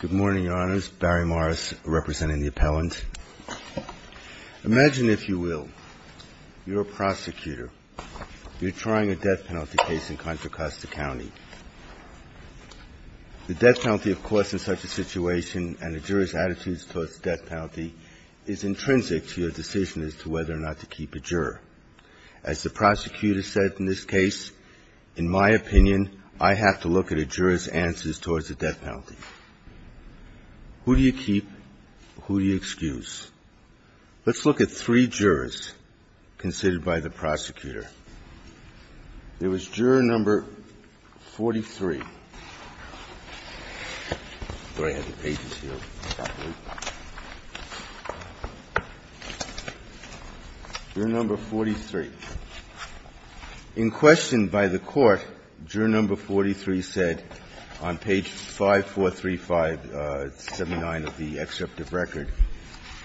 Good morning, Your Honors. Barry Morris, representing the Appellant. Imagine, if you will, you're a prosecutor. You're trying a death penalty case in Contra Costa County. The death penalty, of course, in such a situation, and a juror's attitudes towards the death penalty, is intrinsic to your decision as to whether or not to keep a juror. As the Who do you keep? Who do you excuse? Let's look at three jurors considered by the prosecutor. There was juror number 43. I thought I had the pages here. Juror number 43. In question by the court, juror number 43 said, on page 5 of the indictment, that he was not going to keep a juror who was from Contra Costa County. And I would like to ask the jury to please give me the situation at page 5, 435, 79 of the excerpt of record.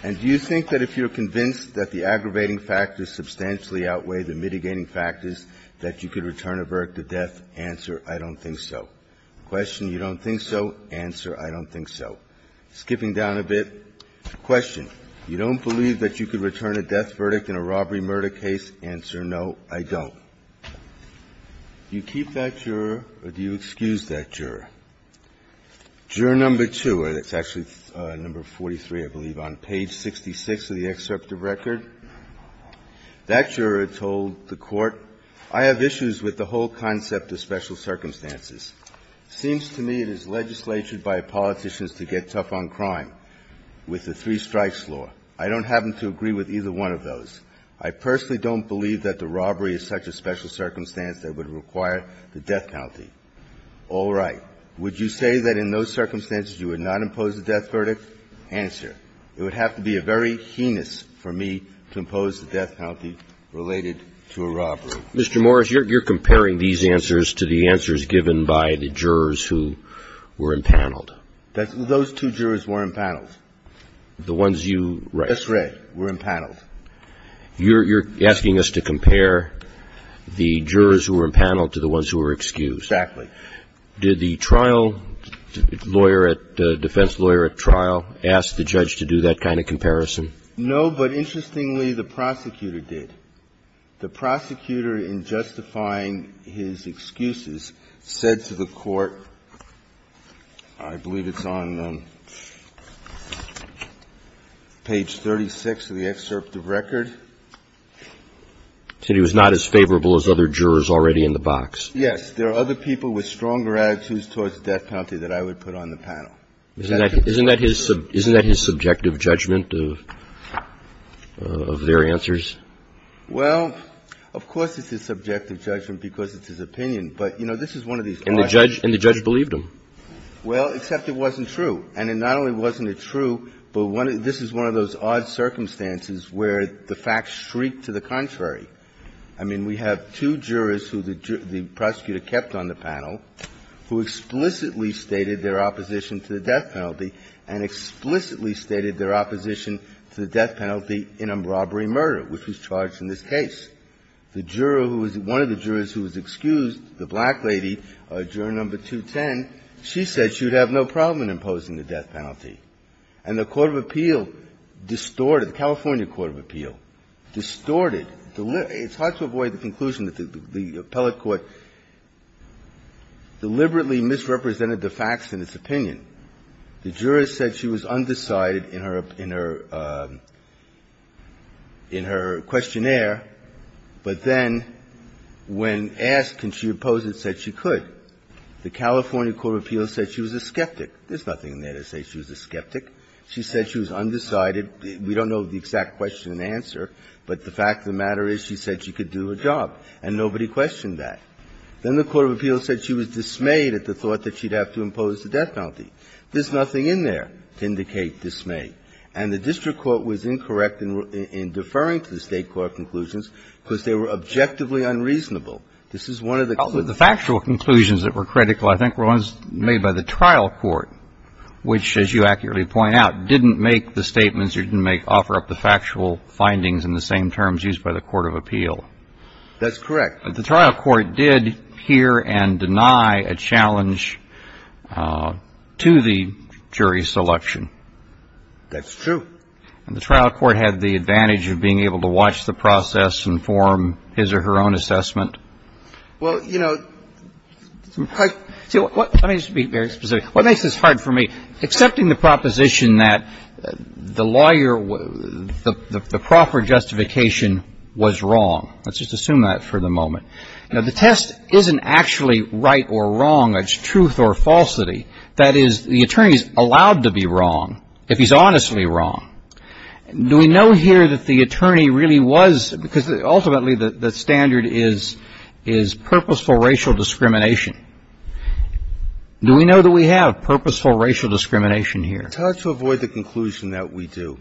And do you think that, if you're convinced that the aggravating factors substantially outweigh the mitigating factors, that you could return a verdict of death? Answer, I don't think so. Question, you don't think so? Answer, I don't think so. Skipping down a bit. Question, you don't believe that you could return a death verdict in a robbery murder case? Answer, no, I don't. Do you keep that juror, or do you excuse that juror? Juror number 2, that's actually number 43, I believe, on page 66 of the excerpt of record. That juror told the court, I have issues with the whole concept of special circumstances. Seems to me it is legislated by politicians to get tough on crime with the three strikes law. I don't happen to agree with either one of those. I personally don't believe that the robbery is such a special circumstance that it would require the death penalty. All right. Would you say that in those circumstances you would not impose a death verdict? Answer, it would have to be a very heinous for me to impose the death penalty related to a robbery. Mr. Morris, you're comparing these answers to the answers given by the jurors who were impaneled. Those two jurors were impaneled. The ones you write. Yes, right, were impaneled. You're asking us to compare the jurors who were impaneled to the ones who were excused. Exactly. Did the trial lawyer at the defense lawyer at trial ask the judge to do that kind of comparison? No, but interestingly, the prosecutor did. The prosecutor, in justifying his excuses, said to the court, I believe it's on page 36 of the excerpt of record. So he was not as favorable as other jurors already in the box. Yes. There are other people with stronger attitudes towards the death penalty that I would put on the panel. Isn't that his subjective judgment of their answers? Well, of course it's his subjective judgment because it's his opinion, but, you know, this is one of these questions. And the judge believed him. Well, except it wasn't true. And it not only wasn't true, but this is one of those odd circumstances where the facts shriek to the contrary. I mean, we have two jurors who the prosecutor kept on the panel who explicitly stated their opposition to the death penalty and explicitly stated their opposition to the death penalty in a robbery murder, which was charged in this case. The juror who was one of the jurors who was excused, the black lady, juror number 210, she said she would have no problem in imposing the death penalty. And the court of appeal distorted, the California court of appeal, distorted. It's hard to avoid the conclusion that the appellate court deliberately misrepresented the facts in its opinion. The juror said she was undecided in her questionnaire, but then when asked, can she oppose it, said she could. The California court of appeal said she was a skeptic. There's nothing in there to say she was a skeptic. She said she was undecided. We don't know the exact question and answer, but the fact of the matter is she said she could do her job, and nobody questioned that. Then the court of appeal said she was dismayed at the thought that she'd have to impose the death penalty. There's nothing in there to indicate dismay. And the district court was incorrect in deferring to the State court conclusions because they were objectively unreasonable. This is one of the cases. The factual conclusions that were critical, I think, were ones made by the trial court, which, as you accurately point out, didn't make the statements or didn't make, offer up the factual findings in the same terms used by the court of appeal. That's correct. The trial court did hear and deny a challenge to the jury selection. That's true. And the trial court had the advantage of being able to watch the process and form his or her own assessment. Well, you know, I — Let me just be very specific. What makes this hard for me, accepting the proposition that the lawyer, the proper justification was wrong. Let's just assume that for the moment. Now, the test isn't actually right or wrong. It's truth or falsity. That is, the attorney is allowed to be wrong if he's honestly wrong. Do we know here that the attorney really was — because ultimately the standard is purposeful racial discrimination. Do we know that we have purposeful racial discrimination here? It's hard to avoid the conclusion that we do.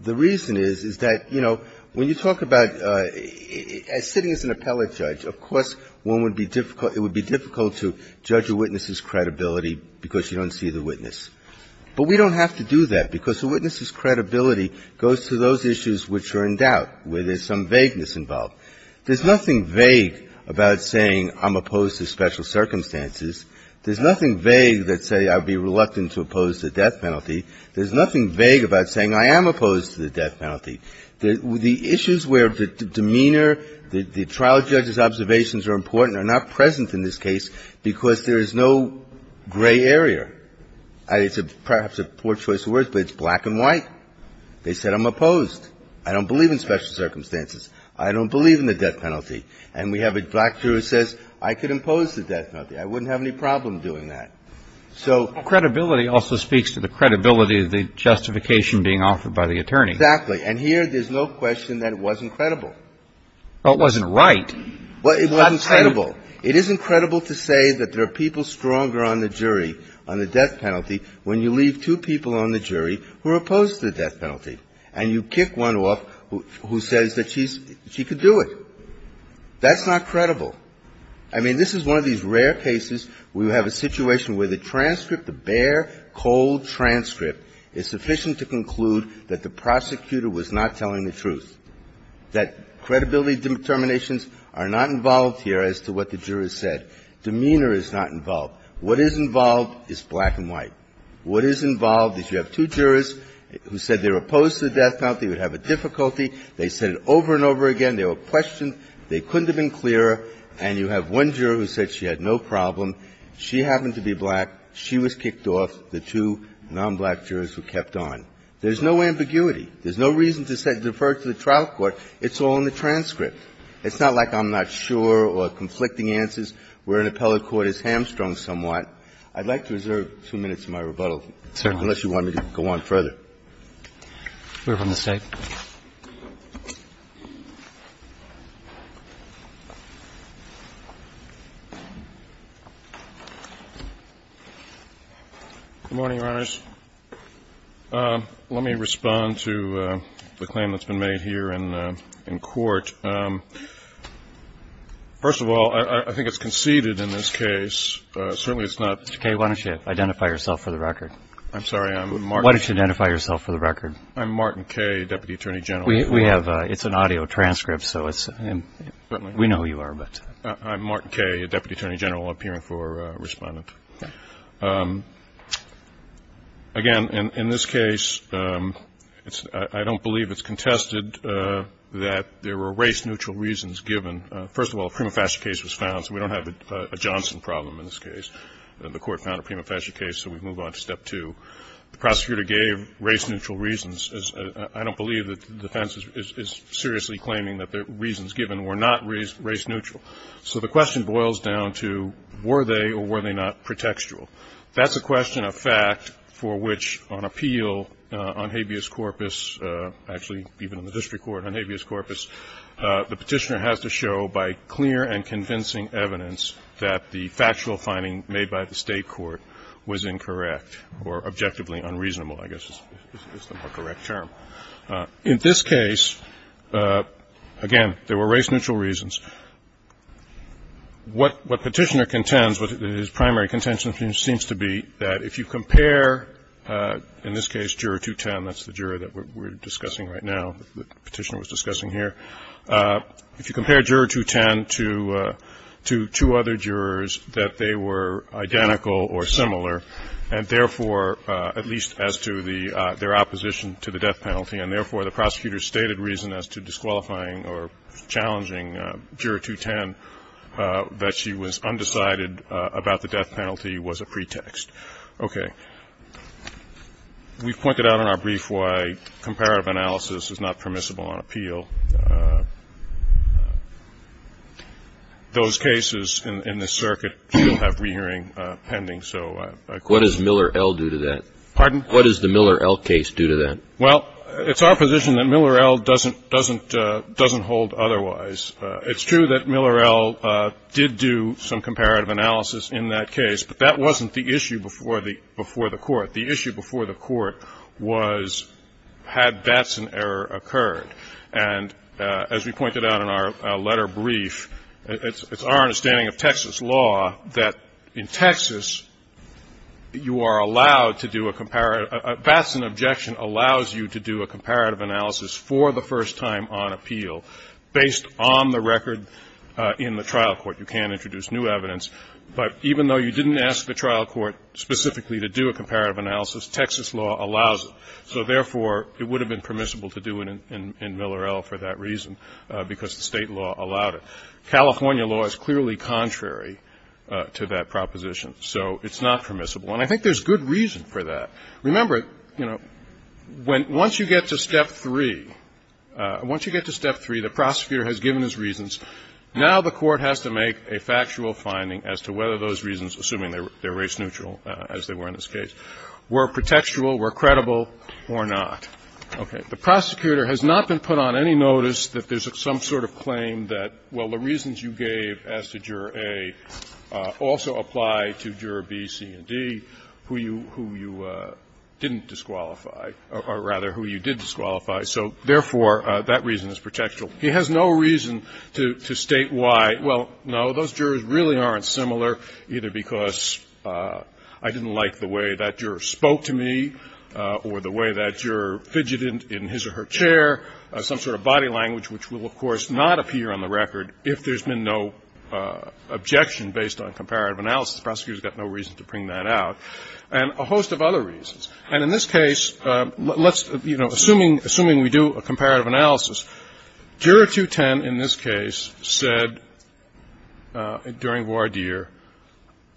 The reason is, is that, you know, when you talk about sitting as an appellate judge, of course one would be difficult — it would be difficult to judge a witness's credibility because you don't see the witness. But we don't have to do that because a witness's credibility goes to those issues which are in doubt, where there's some vagueness involved. There's nothing vague about saying I'm opposed to special circumstances. There's nothing vague that says I'd be reluctant to oppose the death penalty. There's nothing vague about saying I am opposed to the death penalty. The issues where the demeanor, the trial judge's observations are important are not present in this case because there is no gray area. It's perhaps a poor choice of words, but it's black and white. They said I'm opposed. I don't believe in special circumstances. I don't believe in the death penalty. And we have a black juror who says I could impose the death penalty. I wouldn't have any problem doing that. So credibility also speaks to the credibility of the justification being offered by the attorney. Exactly. And here there's no question that it wasn't credible. Well, it wasn't right. Well, it wasn't credible. It is incredible to say that there are people stronger on the jury on the death penalty when you leave two people on the jury who are opposed to the death penalty and you kick one off who says that she's — she could do it. That's not credible. I mean, this is one of these rare cases where you have a situation where the transcript, the bare, cold transcript is sufficient to conclude that the prosecutor was not telling the truth, that credibility determinations are not involved here as to what the jurors said. Demeanor is not involved. What is involved is black and white. What is involved is you have two jurors who said they were opposed to the death penalty, would have a difficulty. They said it over and over again. They were questioned. They couldn't have been clearer. And you have one juror who said she had no problem. She happened to be black. She was kicked off. The two nonblack jurors were kept on. There's no ambiguity. There's no reason to defer to the trial court. It's all in the transcript. It's not like I'm not sure or conflicting answers where an appellate court is hamstrung somewhat. I'd like to reserve two minutes of my rebuttal. Unless you want me to go on further. We're from the State. Good morning, Your Honors. Let me respond to the claim that's been made here in court. First of all, I think it's conceded in this case. Certainly it's not. Mr. Kay, why don't you identify yourself for the record. I'm sorry. Why don't you identify yourself for the record. I'm Martin Kay, Deputy Attorney General. It's an audio transcript. We know who you are. I'm Martin Kay, Deputy Attorney General, appearing for respondent. Again, in this case, I don't believe it's contested that there were race-neutral reasons given. First of all, a prima facie case was found, so we don't have a Johnson problem in this case. The court found a prima facie case, so we move on to step two. The prosecutor gave race-neutral reasons. I don't believe that the defense is seriously claiming that the reasons given were not race-neutral. So the question boils down to were they or were they not pretextual. That's a question of fact for which on appeal on habeas corpus, actually even in the district court on habeas corpus, the Petitioner has to show by clear and convincing evidence that the factual finding made by the State court was incorrect or objectively unreasonable, I guess is the more correct term. In this case, again, there were race-neutral reasons. What Petitioner contends, what his primary contention seems to be, that if you compare, in this case, Juror 210, that's the juror that we're discussing right now, the Petitioner was discussing here. If you compare Juror 210 to two other jurors that they were identical or similar and, therefore, at least as to their opposition to the death penalty, and, therefore, the prosecutor's stated reason as to disqualifying or challenging Juror 210 that she was undecided about the death penalty was a pretext. Okay. We've pointed out in our brief why comparative analysis is not permissible on appeal. Those cases in this circuit, we'll have re-hearing pending. So I'd like to go ahead. What does Miller-El do to that? Pardon? What does the Miller-El case do to that? Well, it's our position that Miller-El doesn't hold otherwise. It's true that Miller-El did do some comparative analysis in that case, but that wasn't the issue before the court. The issue before the court was had that's an error occurred. And as we pointed out in our letter brief, it's our understanding of Texas law that in Texas, you are allowed to do a comparative – Batson objection allows you to do a comparative analysis for the first time on appeal based on the record in the trial court. You can't introduce new evidence. But even though you didn't ask the trial court specifically to do a comparative analysis, Texas law allows it. So therefore, it would have been permissible to do it in Miller-El for that reason because the State law allowed it. California law is clearly contrary to that proposition. So it's not permissible. And I think there's good reason for that. Remember, you know, once you get to Step 3, once you get to Step 3, the prosecutor has given his reasons. Now the court has to make a factual finding as to whether those reasons, assuming they're race neutral, as they were in this case, were protectual, were credible, or not. Okay. The prosecutor has not been put on any notice that there's some sort of claim that, well, the reasons you gave as to Juror A also apply to Juror B, C, and D, who you didn't disqualify, or rather who you did disqualify. So therefore, that reason is protectual. He has no reason to state why, well, no, those jurors really aren't similar, either because I didn't like the way that juror spoke to me or the way that juror fidgeted in his or her chair, some sort of body language, which will, of course, not appear on the record if there's been no objection based on comparative analysis. The prosecutor's got no reason to bring that out. And a host of other reasons. And in this case, let's, you know, assuming we do a comparative analysis, Juror 210 in this case said, during voir dire,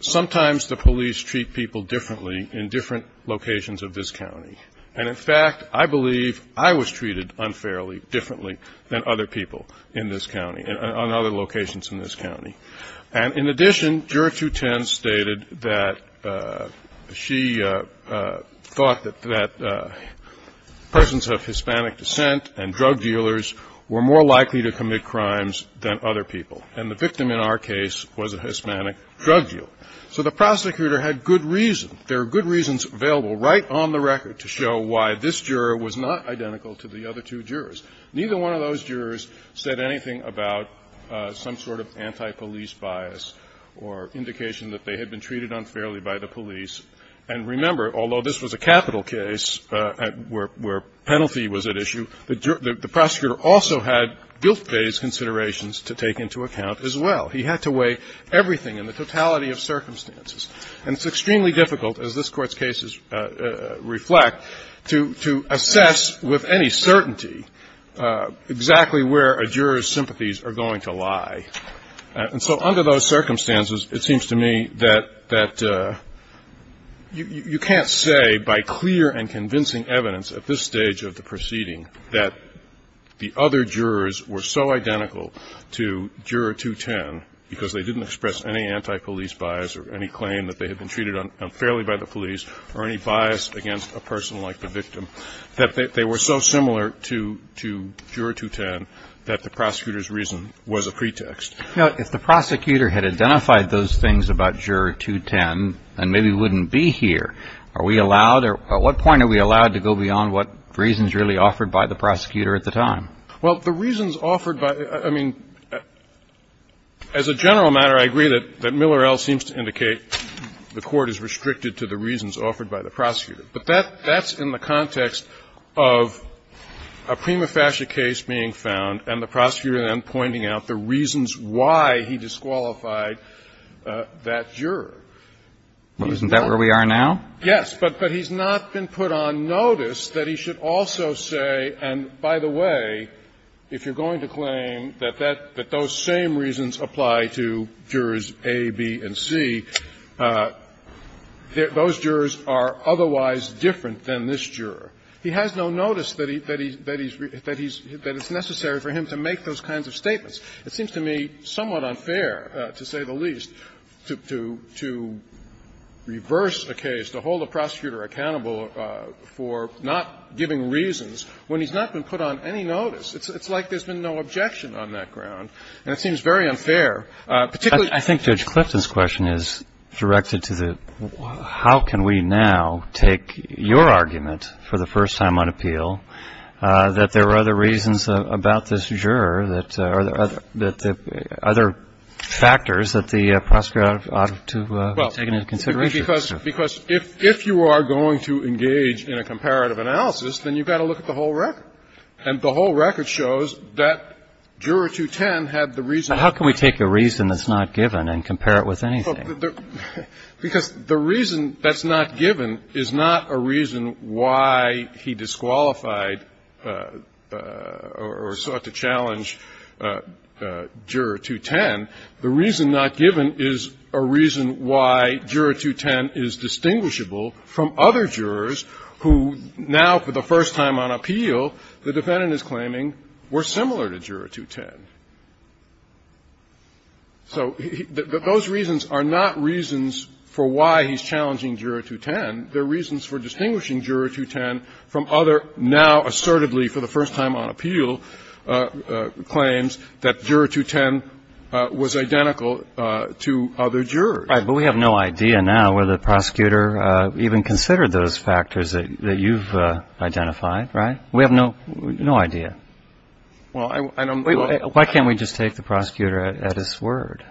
sometimes the police treat people differently in different locations of this county. And in fact, I believe I was treated unfairly, differently than other people in this county, on other locations in this county. And in addition, Juror 210 stated that she thought that persons of Hispanic descent and drug dealers were more likely to commit crimes than other people. And the victim in our case was a Hispanic drug dealer. So the prosecutor had good reason. There are good reasons available right on the record to show why this juror was not identical to the other two jurors. Neither one of those jurors said anything about some sort of anti-police bias or indication that they had been treated unfairly by the police. And remember, although this was a capital case where penalty was at issue, the prosecutor also had guilt-based considerations to take into account as well. He had to weigh everything in the totality of circumstances. And it's extremely difficult, as this Court's cases reflect, to assess with any certainty exactly where a juror's sympathies are going to lie. And so under those circumstances, it seems to me that you can't say by clear and convincing evidence at this stage of the proceeding that the other jurors were so identical to Juror 210 because they didn't express any anti-police bias or any claim that they had been treated unfairly by the police or any bias against a person like the victim that they were so similar to Juror 210 that the prosecutor's reason was a pretext. Now, if the prosecutor had identified those things about Juror 210, then maybe we wouldn't be here. Are we allowed or at what point are we allowed to go beyond what reasons really offered by the prosecutor at the time? Well, the reasons offered by the – I mean, as a general matter, I agree that Miller L. seems to indicate the Court is restricted to the reasons offered by the prosecutor. But that's in the context of a prima facie case being found and the prosecutor then pointing out the reasons why he disqualified that juror. Isn't that where we are now? Yes, but he's not been put on notice that he should also say, and by the way, if you're apply to jurors A, B, and C, those jurors are otherwise different than this juror. He has no notice that he's – that it's necessary for him to make those kinds of statements. It seems to me somewhat unfair, to say the least, to reverse a case, to hold a prosecutor accountable for not giving reasons when he's not been put on any notice. It's like there's been no objection on that ground. And it seems very unfair. Particularly – I think Judge Clifton's question is directed to the how can we now take your argument for the first time on appeal that there are other reasons about this juror that – or other factors that the prosecutor ought to be taking into consideration? Because if you are going to engage in a comparative analysis, then you've got to look at the whole record. And the whole record shows that Juror 210 had the reason. But how can we take a reason that's not given and compare it with anything? Because the reason that's not given is not a reason why he disqualified or sought to challenge Juror 210. The reason not given is a reason why Juror 210 is distinguishable from other jurors who now, for the first time on appeal, the defendant is claiming were similar to Juror 210. So those reasons are not reasons for why he's challenging Juror 210. They're reasons for distinguishing Juror 210 from other now assertedly for the first time on appeal claims that Juror 210 was identical to other jurors. Right. But we have no idea now whether the prosecutor even considered those factors that you've identified, right? We have no idea. Why can't we just take the prosecutor at his word?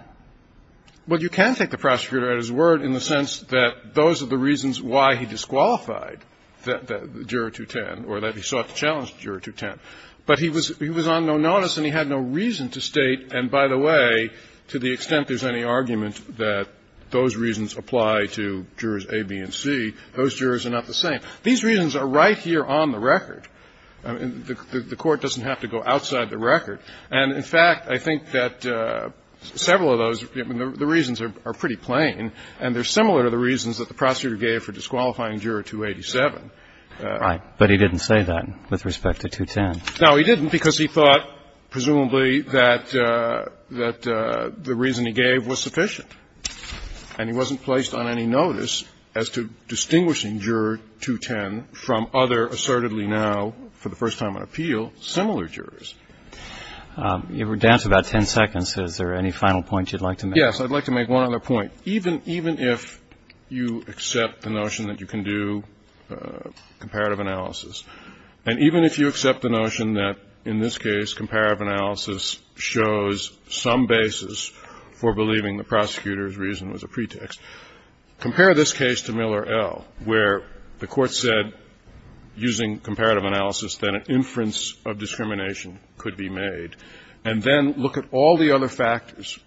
Well, you can take the prosecutor at his word in the sense that those are the reasons why he disqualified Juror 210 or that he sought to challenge Juror 210. But he was on no notice and he had no reason to state, and by the way, to the extent there's any argument that those reasons apply to jurors A, B, and C, those jurors are not the same. These reasons are right here on the record. The Court doesn't have to go outside the record. And, in fact, I think that several of those, the reasons are pretty plain and they're similar to the reasons that the prosecutor gave for disqualifying Juror 287. Right. But he didn't say that with respect to 210. No, he didn't, because he thought, presumably, that the reason he gave was sufficient. And he wasn't placed on any notice as to distinguishing Juror 210 from other assertedly now, for the first time on appeal, similar jurors. If we're down to about 10 seconds, is there any final point you'd like to make? Yes. I'd like to make one other point. Even if you accept the notion that you can do comparative analysis, and even if you accept the notion that, in this case, comparative analysis shows some basis for believing the prosecutor's reason was a pretext, compare this case to Miller L, where the Court said, using comparative analysis, that an inference of discrimination could be made, and then look at all the other factors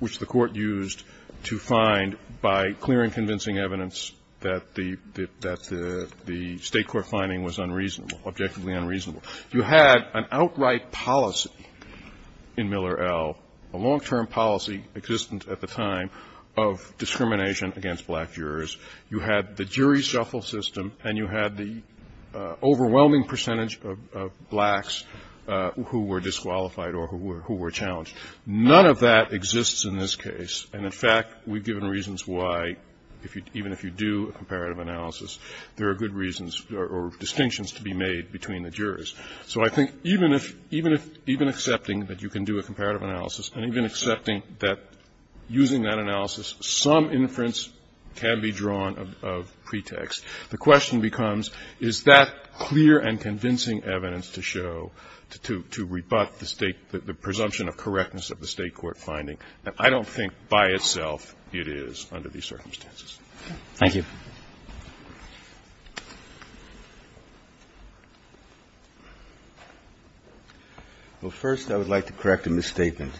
which the Court used to find, by clearing and convincing evidence that the State court finding was unreasonable, objectively unreasonable. You had an outright policy in Miller L, a long-term policy, existent at the time, of discrimination against black jurors. You had the jury shuffle system, and you had the overwhelming percentage of blacks who were disqualified or who were challenged. None of that exists in this case. And, in fact, we've given reasons why, even if you do comparative analysis, there are good reasons or distinctions to be made between the jurors. So I think even if, even accepting that you can do a comparative analysis, and even accepting that using that analysis, some inference can be drawn of pretext, the question becomes, is that clear and convincing evidence to show, to rebut the State, the presumption of correctness of the State court finding? And I don't think, by itself, it is under these circumstances. Thank you. Well, first, I would like to correct a misstatement.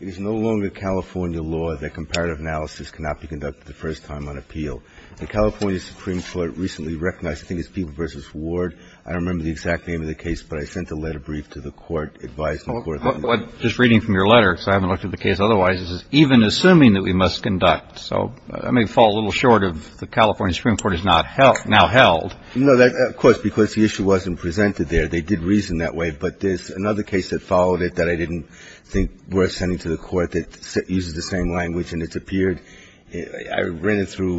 It is no longer California law that comparative analysis cannot be conducted the first time on appeal. The California Supreme Court recently recognized, I think it's Peeble v. Ward, I don't remember the exact name of the case, but I sent a letter brief to the Court advising the California Supreme Court. Just reading from your letter, because I haven't looked at the case otherwise, it says, even assuming that we must conduct. So I may fall a little short of the California Supreme Court has now held. No, of course, because the issue wasn't presented there. They did reason that way. But there's another case that followed it that I didn't think worth sending to the Court that uses the same language, and it's appeared. I ran it through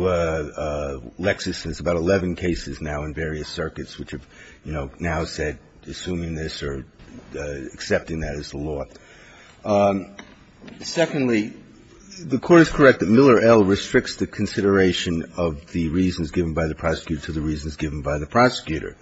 Lexis since about 11 cases now in various circuits, which have, you Secondly, the Court is correct that Miller L. restricts the consideration of the reasons given by the prosecutor to the reasons given by the prosecutor.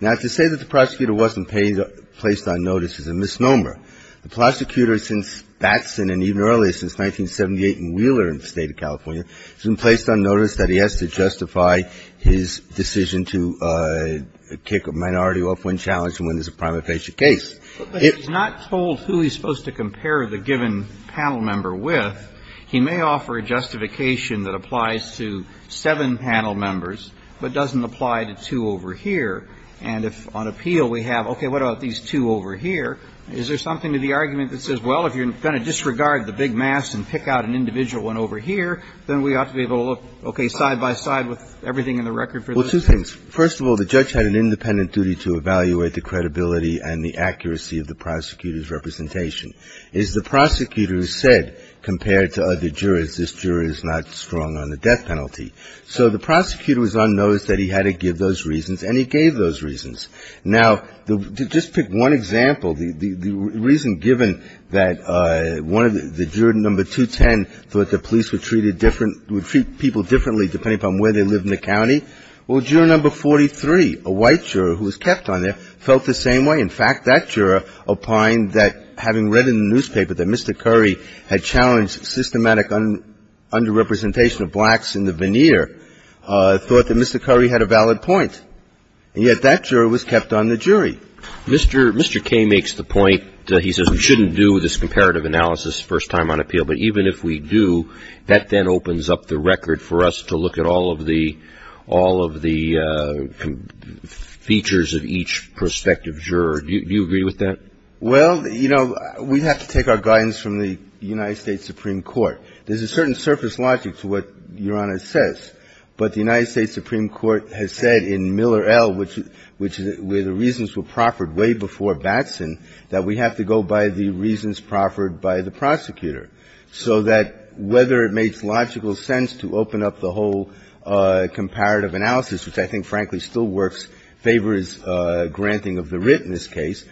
Now, to say that the prosecutor wasn't placed on notice is a misnomer. The prosecutor since Batson and even earlier, since 1978 in Wheeler in the State of California, has been placed on notice that he has to justify his decision to kick a minority off when challenged and when there's a prima facie case. But he's not told who he's supposed to compare the given panel member with. He may offer a justification that applies to seven panel members, but doesn't apply to two over here. And if on appeal we have, okay, what about these two over here, is there something to the argument that says, well, if you're going to disregard the big mass and pick out an individual one over here, then we ought to be able to look, okay, side by side Well, two things. First of all, the judge had an independent duty to evaluate the credibility and the accuracy of the prosecutor's representation. As the prosecutor said, compared to other jurors, this juror is not strong on the death penalty. So the prosecutor was on notice that he had to give those reasons, and he gave those reasons. Now, just pick one example. The reason given that one of the juror number 210 thought the police would treat people differently depending upon where they lived in the county, well, juror number 43, a white juror who was kept on there, felt the same way. In fact, that juror opined that having read in the newspaper that Mr. Curry had challenged systematic underrepresentation of blacks in the veneer, thought that Mr. Curry had a valid point. And yet that juror was kept on the jury. Mr. Kaye makes the point that he says we shouldn't do this comparative analysis first time on appeal. But even if we do, that then opens up the record for us to look at all of the features of each prospective juror. Do you agree with that? Well, you know, we have to take our guidance from the United States Supreme Court. There's a certain surface logic to what Your Honor says. But the United States Supreme Court has said in Miller L., which is where the reasons were proffered by the prosecutor, so that whether it makes logical sense to open up the whole comparative analysis, which I think, frankly, still works, favors granting of the writ in this case,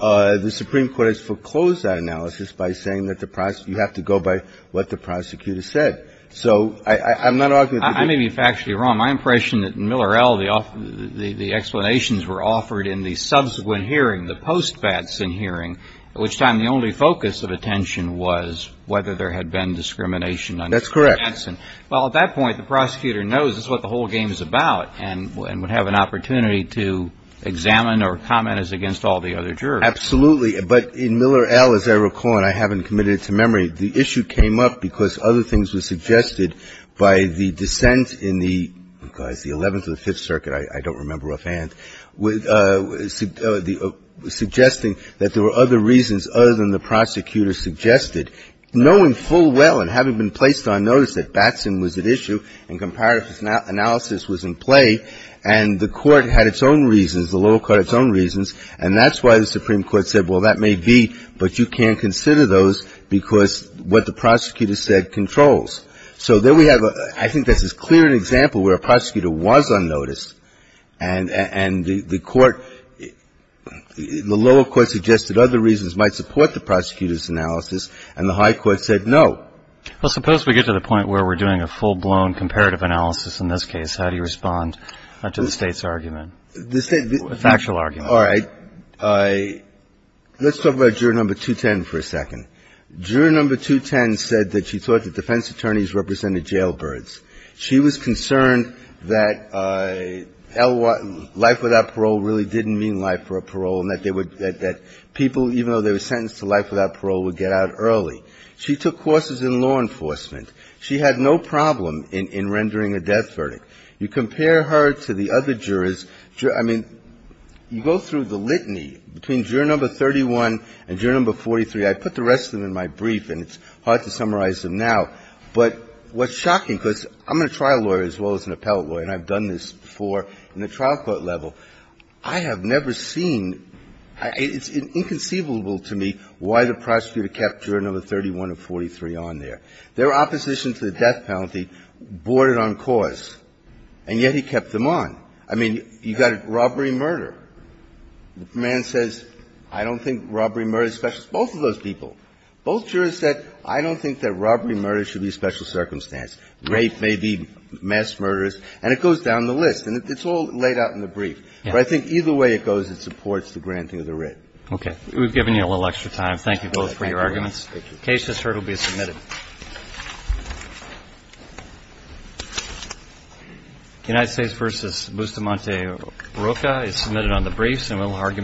the Supreme Court has foreclosed that analysis by saying that the prosecutor, you have to go by what the prosecutor said. So I'm not arguing that the jury. I may be factually wrong. My impression that in Miller L., the explanations were offered in the subsequent hearing, the post-Batson hearing, at which time the only focus of attention was whether there had been discrimination under Batson. That's correct. Well, at that point, the prosecutor knows this is what the whole game is about and would have an opportunity to examine or comment as against all the other jurors. Absolutely. But in Miller L., as I recall, and I haven't committed it to memory, the issue came up because other things were suggested by the dissent in the 11th or the 5th Circuit, I don't remember offhand, suggesting that there were other reasons other than the prosecutor suggested, knowing full well and having been placed on notice that Batson was at issue and comparative analysis was in play, and the Court had its own reasons, the lower court had its own reasons, and that's why the Supreme Court said, well, that may be, but you can't consider those because what the prosecutor said controls. So there we have a – I think this is clear an example where a prosecutor was on notice and the court – the lower court suggested other reasons might support the prosecutor's analysis, and the high court said no. Well, suppose we get to the point where we're doing a full-blown comparative analysis in this case. How do you respond to the State's argument, factual argument? All right. Let's talk about Juror No. 210 for a second. Juror No. 210 said that she thought that defense attorneys represented jailbirds. She was concerned that life without parole really didn't mean life without parole and that they would – that people, even though they were sentenced to life without parole, would get out early. She took courses in law enforcement. She had no problem in rendering a death verdict. You compare her to the other jurors. I mean, you go through the litany between Juror No. 31 and Juror No. 43. I put the rest of them in my brief, and it's hard to summarize them now. But what's shocking, because I'm a trial lawyer as well as an appellate lawyer and I've done this before in the trial court level, I have never seen – it's inconceivable to me why the prosecutor kept Juror No. 31 and 43 on there. Their opposition to the death penalty boarded on cause, and yet he kept them on. I mean, you've got robbery and murder. The man says, I don't think robbery and murder is special. Both of those people. Both jurors said, I don't think that robbery and murder should be a special circumstance. Rape may be mass murder. And it goes down the list. And it's all laid out in the brief. But I think either way it goes, it supports the granting of the writ. Okay. We've given you a little extra time. Thank you both for your arguments. The case is heard. It will be submitted. United States v. Bustamante-Roca is submitted on the brief.